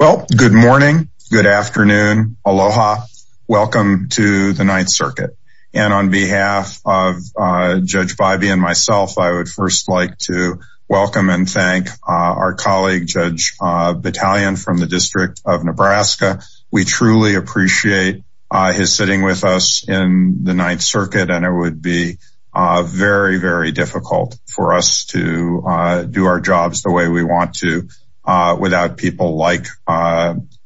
Well, good morning. Good afternoon. Aloha. Welcome to the Ninth Circuit. And on behalf of Judge Bybee and myself, I would first like to welcome and thank our colleague Judge Battalion from the District of Nebraska. We truly appreciate his sitting with us in the Ninth Circuit and it would be very, very difficult for us to do our jobs the way we want to without people like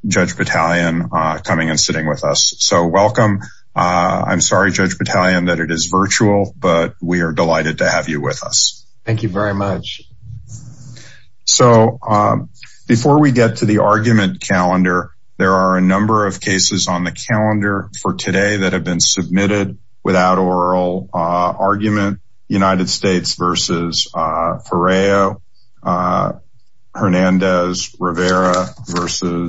Judge Battalion coming and sitting with us. So welcome. I'm sorry, Judge Battalion that it is virtual, but we are delighted to have you with us. Thank you very much. So before we get to the argument calendar, there are a number of cases on the calendar for today that have been submitted without oral argument. United States v. Ferreiro, Hernandez, Rivera v.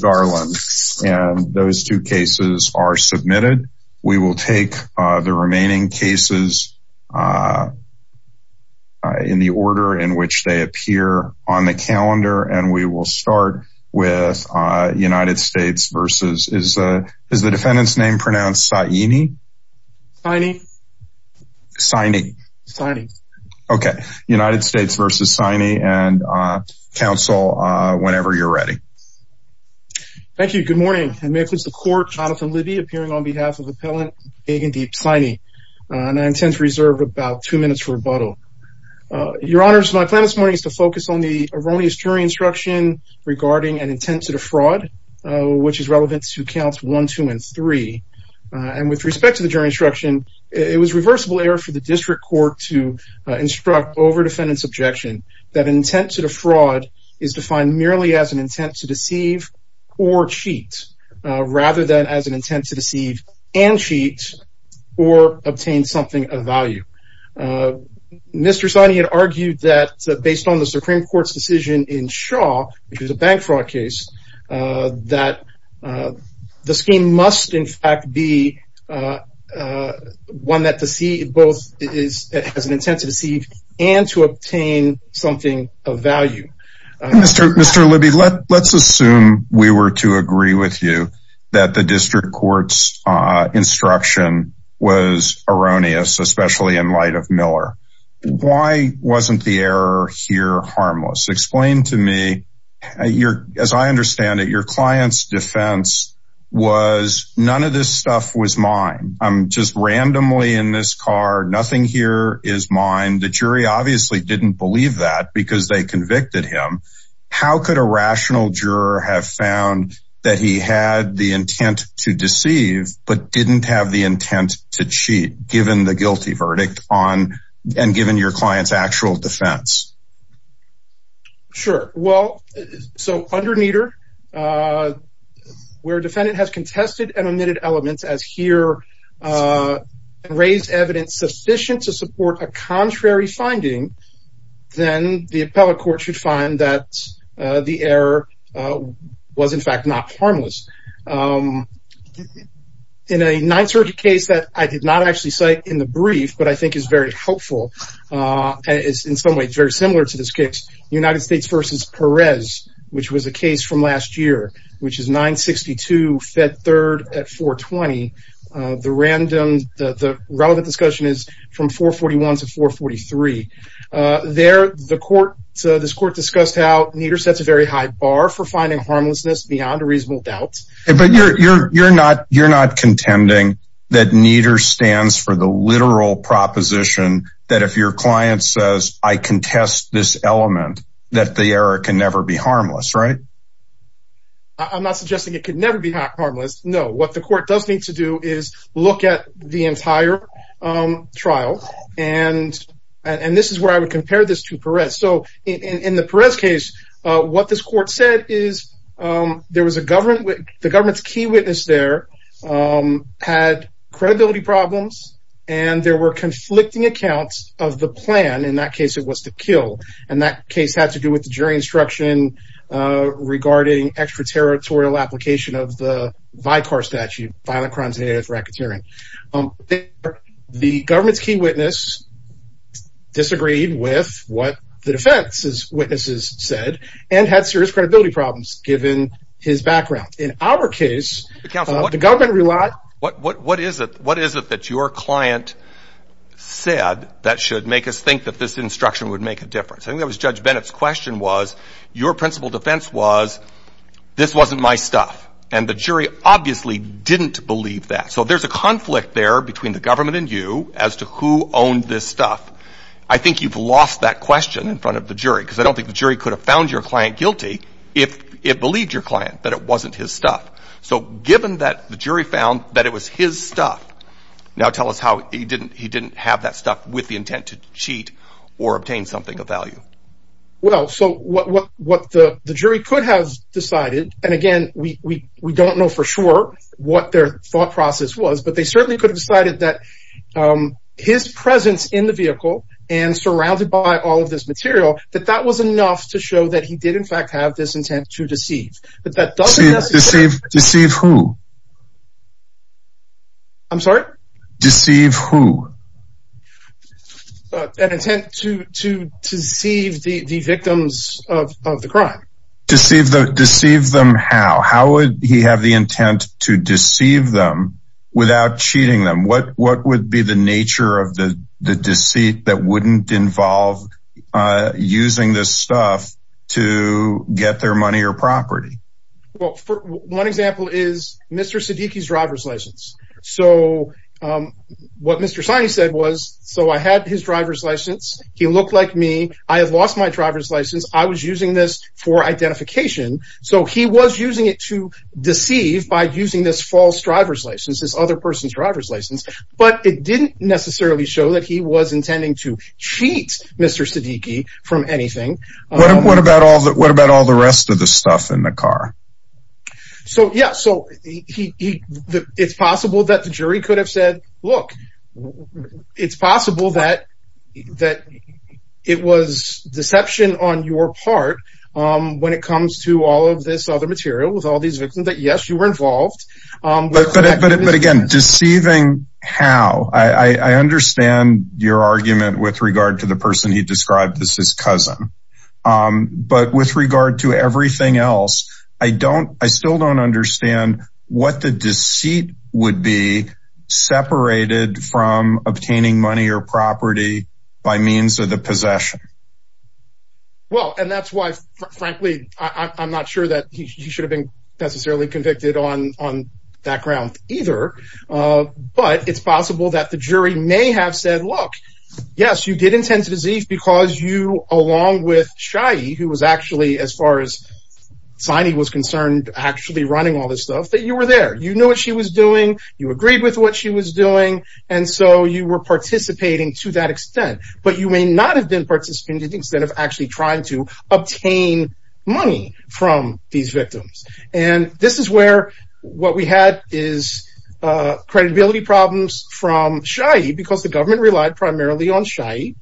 Garland. And those two cases are submitted. We will take the remaining cases in the order in which they appear on the calendar and we will start with United States v. Is the defendant's name pronounced Saini? Saini. Saini. Saini. Okay. United States v. Saini and counsel whenever you're ready. Thank you. Good morning. May it please the Court, Jonathan Libby appearing on behalf of Appellant Gagndeep Saini. And I intend to reserve about two minutes for rebuttal. Your Honors, my plan this morning is to provide erroneous jury instruction regarding an intent to defraud, which is relevant to counts one, two, and three. And with respect to the jury instruction, it was reversible error for the district court to instruct over defendant's objection that intent to defraud is defined merely as an intent to deceive or cheat, rather than as an intent to deceive and cheat or obtain something of value. Mr. Saini had argued that based on the Supreme Court's decision in Shaw, which is a bank fraud case, that the scheme must in fact be one that to see both is as an intent to deceive and to obtain something of value. Mr. Mr. Libby, let's assume we were to agree with you that the district court's instruction was erroneous, especially in light of Miller. Why wasn't the error here harmless? Explain to me, as I understand it, your client's defense was none of this stuff was mine. I'm just How could a rational juror have found that he had the intent to deceive but didn't have the intent to cheat given the guilty verdict on and given your clients actual defense? Sure. Well, so under meter, where defendant has contested and omitted elements as here, raise evidence sufficient to support a contrary finding, then the appellate court should find that the error was in fact not harmless. In a 930 case that I did not actually cite in the brief, but I think is very helpful, is in some ways very similar to this case, United States versus Perez, which was a case from last there, the court, this court discussed how meter sets a very high bar for finding harmlessness beyond a reasonable doubt. But you're, you're, you're not, you're not contending that meter stands for the literal proposition that if your client says, I contest this element, that the error can never be harmless, right? I'm not suggesting it could never be harmless. No, what the court does need to do is look at the entire trial. And, and this is where I would compare this to Perez. So in the press case, what this court said is, there was a government, the government's key witness there had credibility problems. And there were questions regarding extraterritorial application of the Vicar statute, violent crimes and anti-terrorism. The government's key witness disagreed with what the defense's witnesses said, and had serious credibility problems, given his background. In our case, the government relied, what, what, what is it, what is it that your client said that should make us think that this instruction would make a difference? I think that was Judge Bennett's question was, your principal defense was, this wasn't my stuff. And the jury obviously didn't believe that. So there's a conflict there between the government and you as to who owned this stuff. I think you've lost that question in front of the jury, because I don't think the jury could have found your client guilty, if it believed your client that it wasn't his stuff. So given that the jury found that it was his stuff. Now tell us how he didn't, he didn't have that stuff with the the jury could have decided, and again, we don't know for sure what their thought process was, but they certainly could have decided that his presence in the vehicle, and surrounded by all of this material, that that was enough to show that he did in fact have this intent to deceive. But that doesn't deceive, deceive who? I'm sorry? Deceive who? An intent to to deceive the victims of the crime? Deceive the deceive them? How? How would he have the intent to deceive them without cheating them? What what would be the nature of the the deceit that wouldn't involve using this stuff to get their money or property? Well, for one example is Mr. Siddiqui's driver's license. So what Mr. Saini said was, so I had his driver's license, he looked like me, I have lost my driver's So he was using it to deceive by using this false driver's license, this other person's driver's license, but it didn't necessarily show that he was intending to cheat Mr. Siddiqui from anything. What about all that? What about all the rest of the stuff in the car? So yeah, so he, it's possible that the jury could have said, Look, it's possible that that it was deception on your part, when it comes to all of this other material with all these victims that yes, you were involved. But again, deceiving, how? I understand your argument with regard to the person he described as his cousin. But with regard to everything else, I don't, I still don't understand what the deceit would be separated from obtaining money or property by means of the possession. Well, and that's why, frankly, I'm not sure that he should have been necessarily convicted on on that ground either. But it's possible that the jury may have said, Look, yes, you did intend to deceive because you along with Shai, who was actually as far as Saini was concerned, actually running all this stuff that you were there, you know what she was doing, you agreed with what she was doing. And so you were participating to that extent, but you may not have been participating instead of actually trying to obtain money from these victims. And this is where what we had is credibility problems from Shai because the government relied primarily on Shai.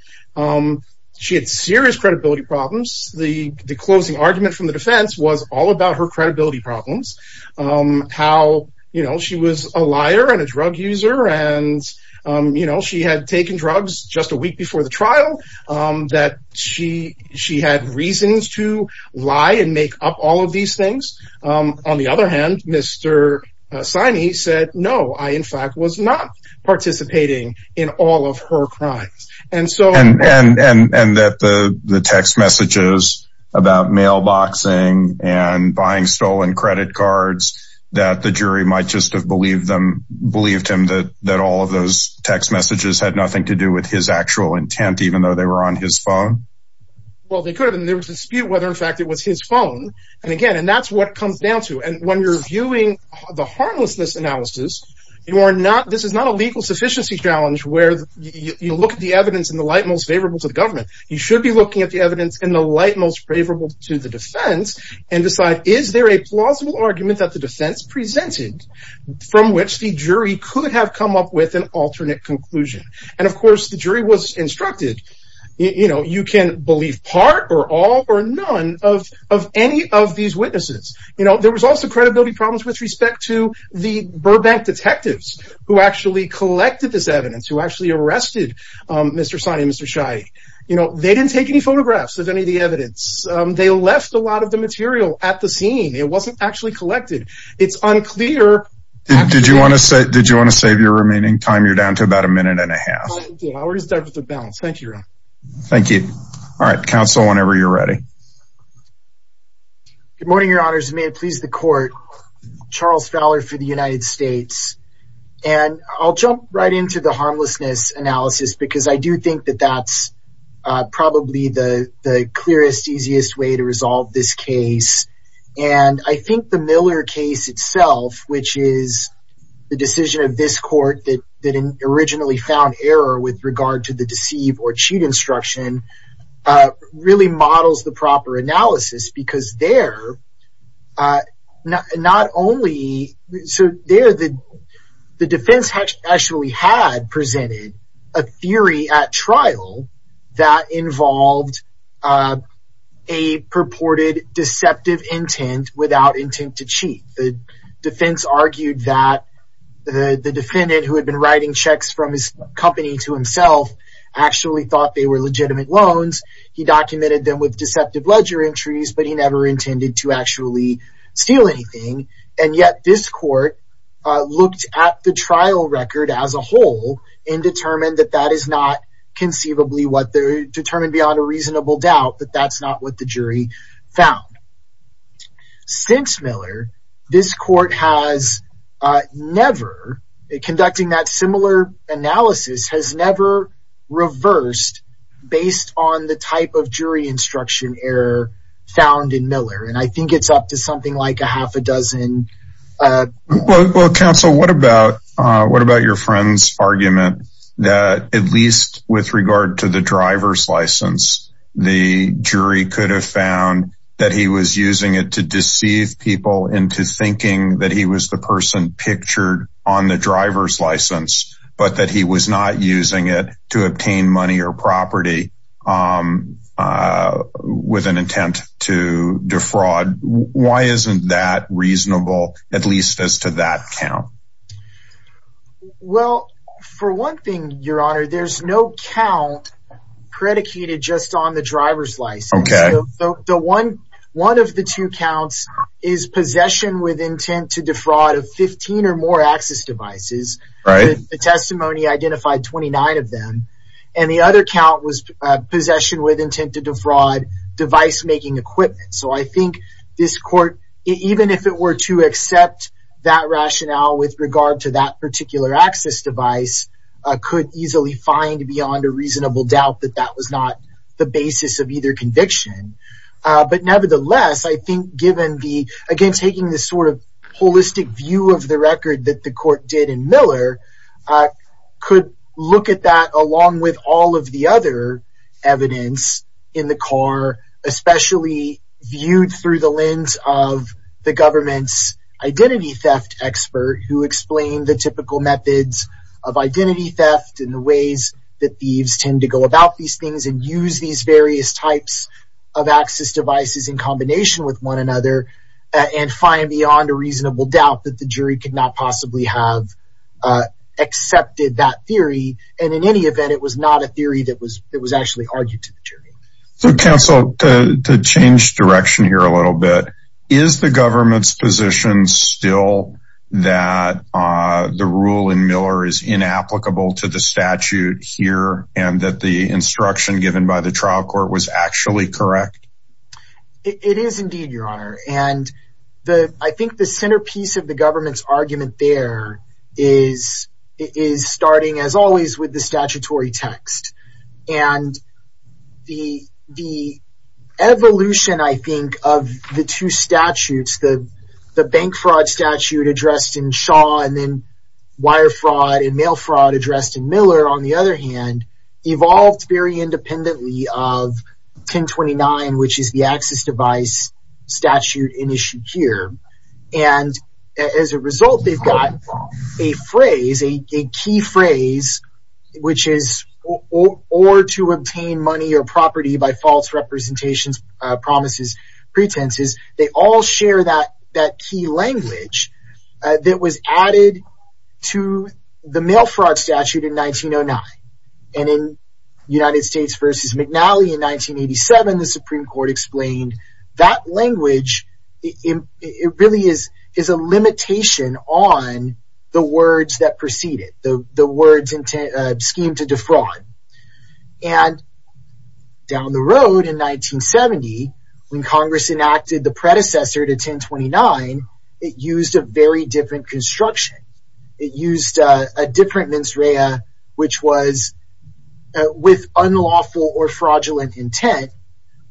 She had serious credibility problems. The closing argument from the defense was all about her credibility problems, how, you know, she was a liar and a drug user. And, you know, she had taken drugs just a week before the trial that she she had reasons to lie and make up all of these things. On the other hand, Mr. Saini said, No, I, in fact, was not participating in all of her crimes. And so and and and that the text messages about mailboxing and buying stolen credit cards that the jury might just have believed them believed him that that all of those text messages had nothing to do with his actual intent, even though they were on his phone. Well, they could and there was a dispute whether, in fact, it was his phone. And again, and that's what comes down to. And when you're viewing the harmlessness analysis, you are not this is not a legal sufficiency challenge where you look at the evidence in the light most favorable to the government. You should be looking at the evidence in the light most favorable to the defense and decide, Is there a plausible argument that the defense presented from which the jury could have come up with an alternate conclusion? And of course, the jury was instructed, you know, you can believe part or all or none of of any of these witnesses. You know, there was also credibility problems with respect to the Burbank detectives who actually collected this evidence, who actually arrested Mr. Saini and Mr. Shai. You know, they didn't take any photographs of any of the evidence. They left a lot of the material at the scene. It wasn't actually collected. It's unclear. Did you want to say did you want to save your remaining time? You're down to about a minute and a half. Thank you. Thank you. All right. Counsel, whenever you're ready. Good morning, Your Honors. May it please the court. Charles Fowler for the United States. And I'll jump right into the harmlessness analysis because I do think that that's probably the clearest, easiest way to resolve this case. And I think the Miller case itself, which is the decision of this court that originally found error with regard to the deceive or cheat instruction, really models the proper analysis. The defense actually had presented a theory at trial that involved a purported deceptive intent without intent to cheat. The defense argued that the defendant who had been writing checks from his company to himself actually thought they were legitimate loans. He documented them with deceptive ledger entries, but he never intended to actually steal anything. And yet this court looked at the trial record as a whole and determined that that is not conceivably what they're determined beyond a reasonable doubt that that's not what the jury found. Since Miller, this court has never, conducting that similar analysis, has never reversed based on the type of jury instruction error found in Miller. And I think it's up to something like a half a dozen. Well, counsel, what about what about your friend's argument that at least with regard to the driver's license, the jury could have found that he was using it to deceive people into thinking that he was the person pictured on the driver's license, but that he was not using it to obtain money or property with an intent to defraud? Why isn't that reasonable, at least as to that count? Well, for one thing, your honor, there's no count predicated just on the driver's license. So the one one of the two counts is possession with intent to defraud of 15 or more access devices. The testimony identified 29 of them. And the other count was possession with intent to defraud device making equipment. So I think this court, even if it were to accept that rationale with regard to that particular access device, could easily find beyond a reasonable doubt that that was not the basis of either conviction. But nevertheless, I think given the again, taking the sort of holistic view of the record that the court did in Miller could look at that along with all of the other evidence in the car, especially viewed through the lens of the government's identity theft expert who explained the typical methods of identity theft and the ways that thieves tend to go about these things and use these various types of devices. Of access devices in combination with one another and find beyond a reasonable doubt that the jury could not possibly have accepted that theory. And in any event, it was not a theory that was it was actually argued to the jury. So counsel to change direction here a little bit. Is the government's position still that the ruling Miller is inapplicable to the statute here and that the instruction given by the trial court was actually correct? It is indeed, Your Honor, and I think the centerpiece of the government's argument there is starting as always with the statutory text and the evolution, I think, of the two statutes, the bank fraud statute addressed in Shaw and then wire fraud and mail fraud addressed in Miller, on the other hand, evolved very independently of 1029, which is the access device statute in issue here. And as a result, they've got a phrase, a key phrase, which is or to obtain money or property by false representations, promises, pretenses. They all share that that key language that was added to the mail fraud statute in 1909. And in United States versus McNally in 1987, the Supreme Court explained that language. It really is is a limitation on the words that preceded the words scheme to defraud. And down the road in 1970, when Congress enacted the predecessor to 1029, it used a very different construction. It used a different mens rea, which was with unlawful or fraudulent intent.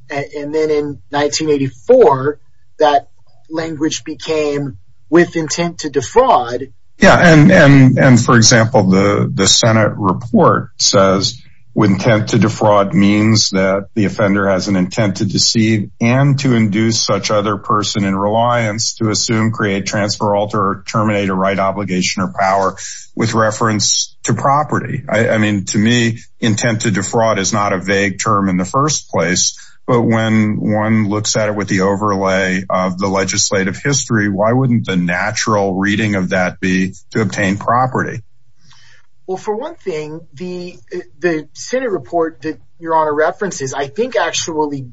And then in 1984, that language became with intent to defraud. Yeah. And for example, the Senate report says with intent to defraud means that the offender has an intent to deceive and to induce such other person in reliance to assume, create, transfer, alter or terminate a right obligation or power with reference to property. I mean, to me, intent to defraud is not a vague term in the first place. But when one looks at it with the overlay of the legislative history, why wouldn't the natural reading of that be to obtain property? Well, for one thing, the the Senate report that your honor references, I think, actually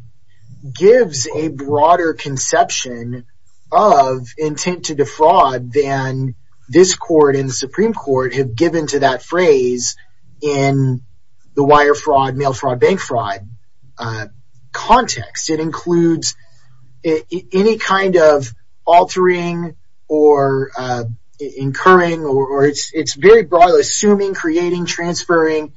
gives a broader conception of intent to defraud than this court in the Supreme Court have given to that phrase in the wire fraud, mail fraud, bank fraud context. It includes any kind of altering or incurring or it's very broad, assuming, creating, transferring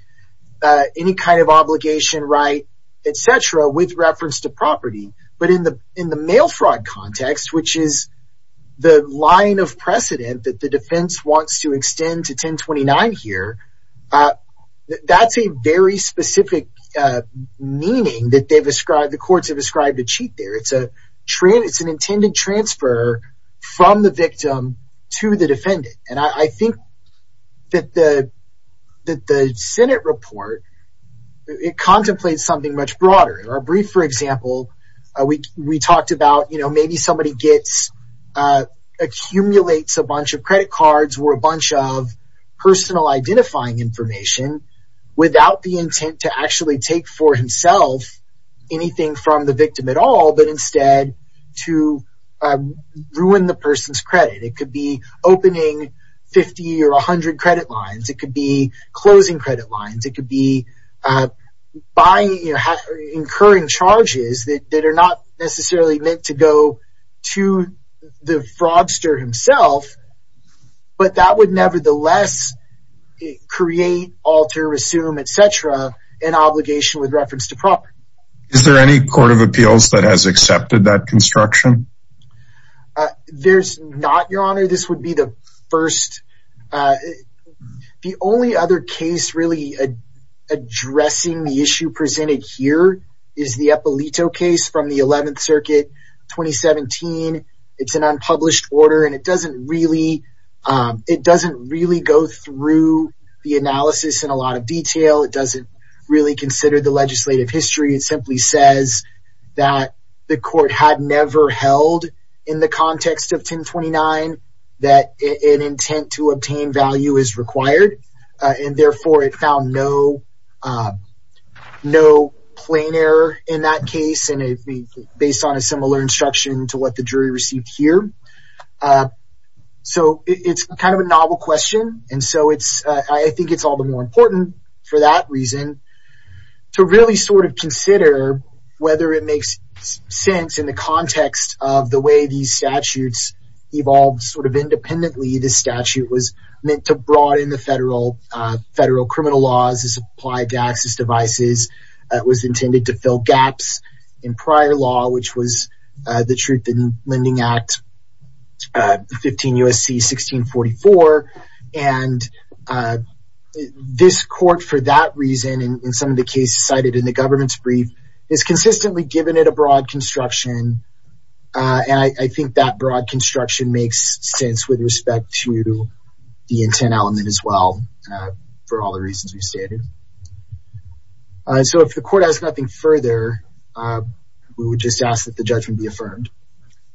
any kind of obligation, right, etc. with reference to property. But in the mail fraud context, which is the line of precedent that the defense wants to extend to 1029 here, that's a very specific meaning that the courts have ascribed to cheat there. It's an intended transfer from the victim to the defendant. And I think that the that the Senate report, it contemplates something much broader. In our brief, for example, we talked about, you know, maybe somebody gets accumulates a bunch of credit cards or a bunch of personal identifying information without the intent to actually take for himself anything from the victim at all, but instead to ruin the person's credit. It could be opening 50 or 100 credit lines. It could be closing credit lines. It could be by incurring charges that are not necessarily meant to go to the fraudster himself. But that would nevertheless create, alter, resume, etc. an obligation with reference to property. Is there any court of appeals that has accepted that construction? There's not, Your Honor. This would be the first. The only other case really addressing the issue presented here is the Eppolito case from the 11th Circuit 2017. It's an unpublished order, and it doesn't really it doesn't really go through the analysis in a lot of detail. It doesn't really consider the legislative history. It simply says that the court had never held in the context of 1029 that an intent to obtain value is required, and therefore it found no plain error in that case. And it would be based on a similar instruction to what the jury received here. So it's kind of a novel question, and so I think it's all the more important for that reason to really sort of consider whether it makes sense in the context of the way these statutes evolved sort of independently. The statute was meant to broaden the federal criminal laws as applied to access devices. It was intended to fill gaps in prior law, which was the Truth in Lending Act 15 U.S.C. 1644. And this court, for that reason, in some of the cases cited in the government's brief, has consistently given it a broad construction. And I think that broad construction makes sense with respect to the intent element as well for all the reasons we've stated. So if the court has nothing further, we would just ask that the judgment be affirmed.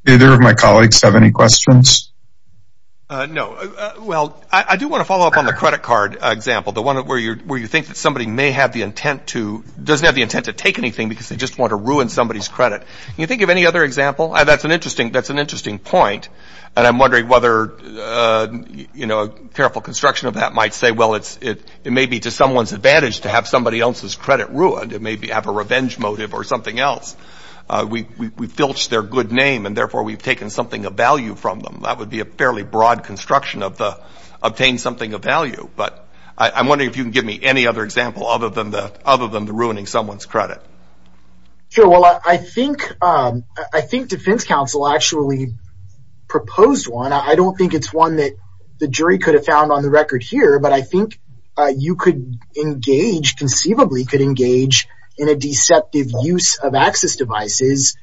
Either of my colleagues have any questions? No. Well, I do want to follow up on the credit card example, the one where you think that somebody may have the intent to doesn't have the intent to take anything because they just want to ruin somebody's credit. Can you think of any other example? That's an interesting point, and I'm wondering whether careful construction of that might say, well, it may be to someone's advantage to have somebody else's credit ruined. It may have a revenge motive or something else. We filched their good name, and therefore we've taken something of value from them. That would be a fairly broad construction of the obtain something of value. But I'm wondering if you can give me any other example other than the ruining someone's credit. Sure. Well, I think defense counsel actually proposed one. I don't think it's one that the jury could have found on the record here, but I think you could engage, conceivably could engage, in a deceptive use of access devices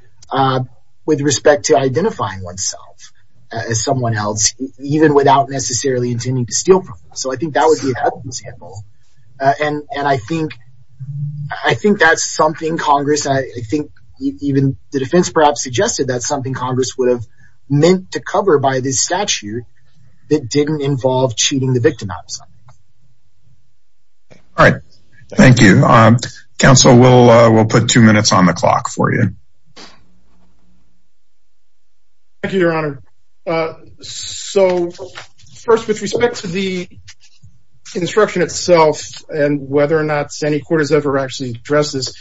with respect to identifying oneself as someone else, even without necessarily intending to steal from them. So I think that would be an example. And I think that's something Congress, I think even the defense perhaps suggested, that's something Congress would have meant to cover by this statute that didn't involve cheating the victim out of something. All right. Thank you. Counsel, we'll put two minutes on the clock for you. Thank you, Your Honor. So first, with respect to the instruction itself and whether or not Santee Court has ever actually addressed this,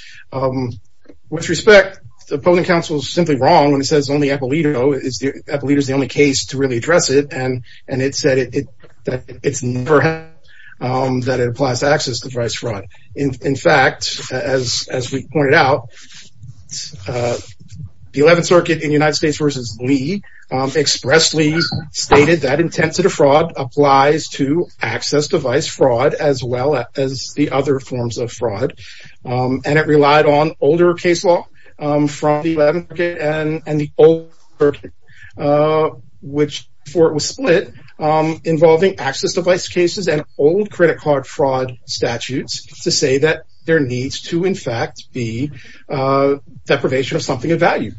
with respect, the opposing counsel is simply wrong when it says only Eppolito. Eppolito is the only case to really address it, and it said that it applies to access device fraud. In fact, as we pointed out, the Eleventh Circuit in United States v. Lee expressly stated that Intent to Defraud applies to access device fraud as well as the other forms of fraud. And it relied on older case law from the Eleventh Circuit and the Older Circuit, which, before it was split, involving access device cases and old credit card fraud statutes to say that there needs to, in fact, be deprivation of something of value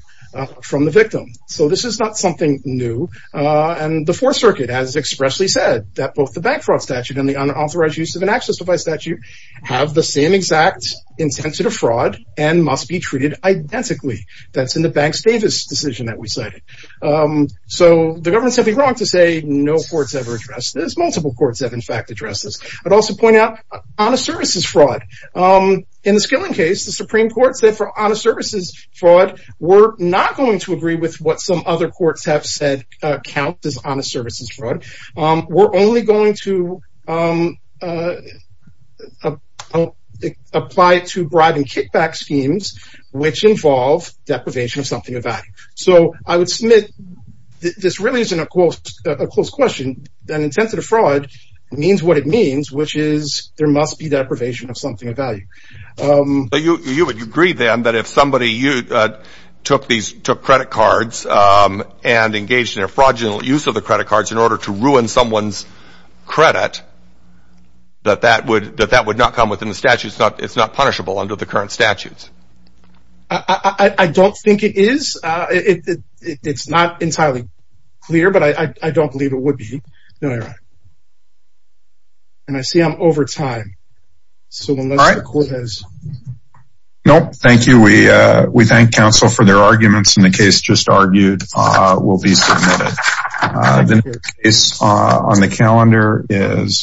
from the victim. So this is not something new. And the Fourth Circuit has expressly said that both the bank fraud statute and the unauthorized use of an access device statute have the same exact intent to defraud and must be treated identically. That's in the Banks-Davis decision that we cited. So the government's simply wrong to say no courts ever addressed this. Multiple courts have, in fact, addressed this. I'd also point out honest services fraud. In the Skilling case, the Supreme Court said for honest services fraud, we're not going to agree with what some other courts have said counts as honest services fraud. We're only going to apply it to bribe and kickback schemes, which involve deprivation of something of value. So I would submit this really isn't a close question. An intent to defraud means what it means, which is there must be deprivation of something of value. But you would agree, then, that if somebody took credit cards and engaged in a fraudulent use of the credit cards in order to ruin someone's credit, that that would not come within the statute. It's not punishable under the current statutes. I don't think it is. It's not entirely clear, but I don't believe it would be. And I see I'm over time. All right. No, thank you. We thank counsel for their arguments. And the case just argued will be submitted. The case on the calendar is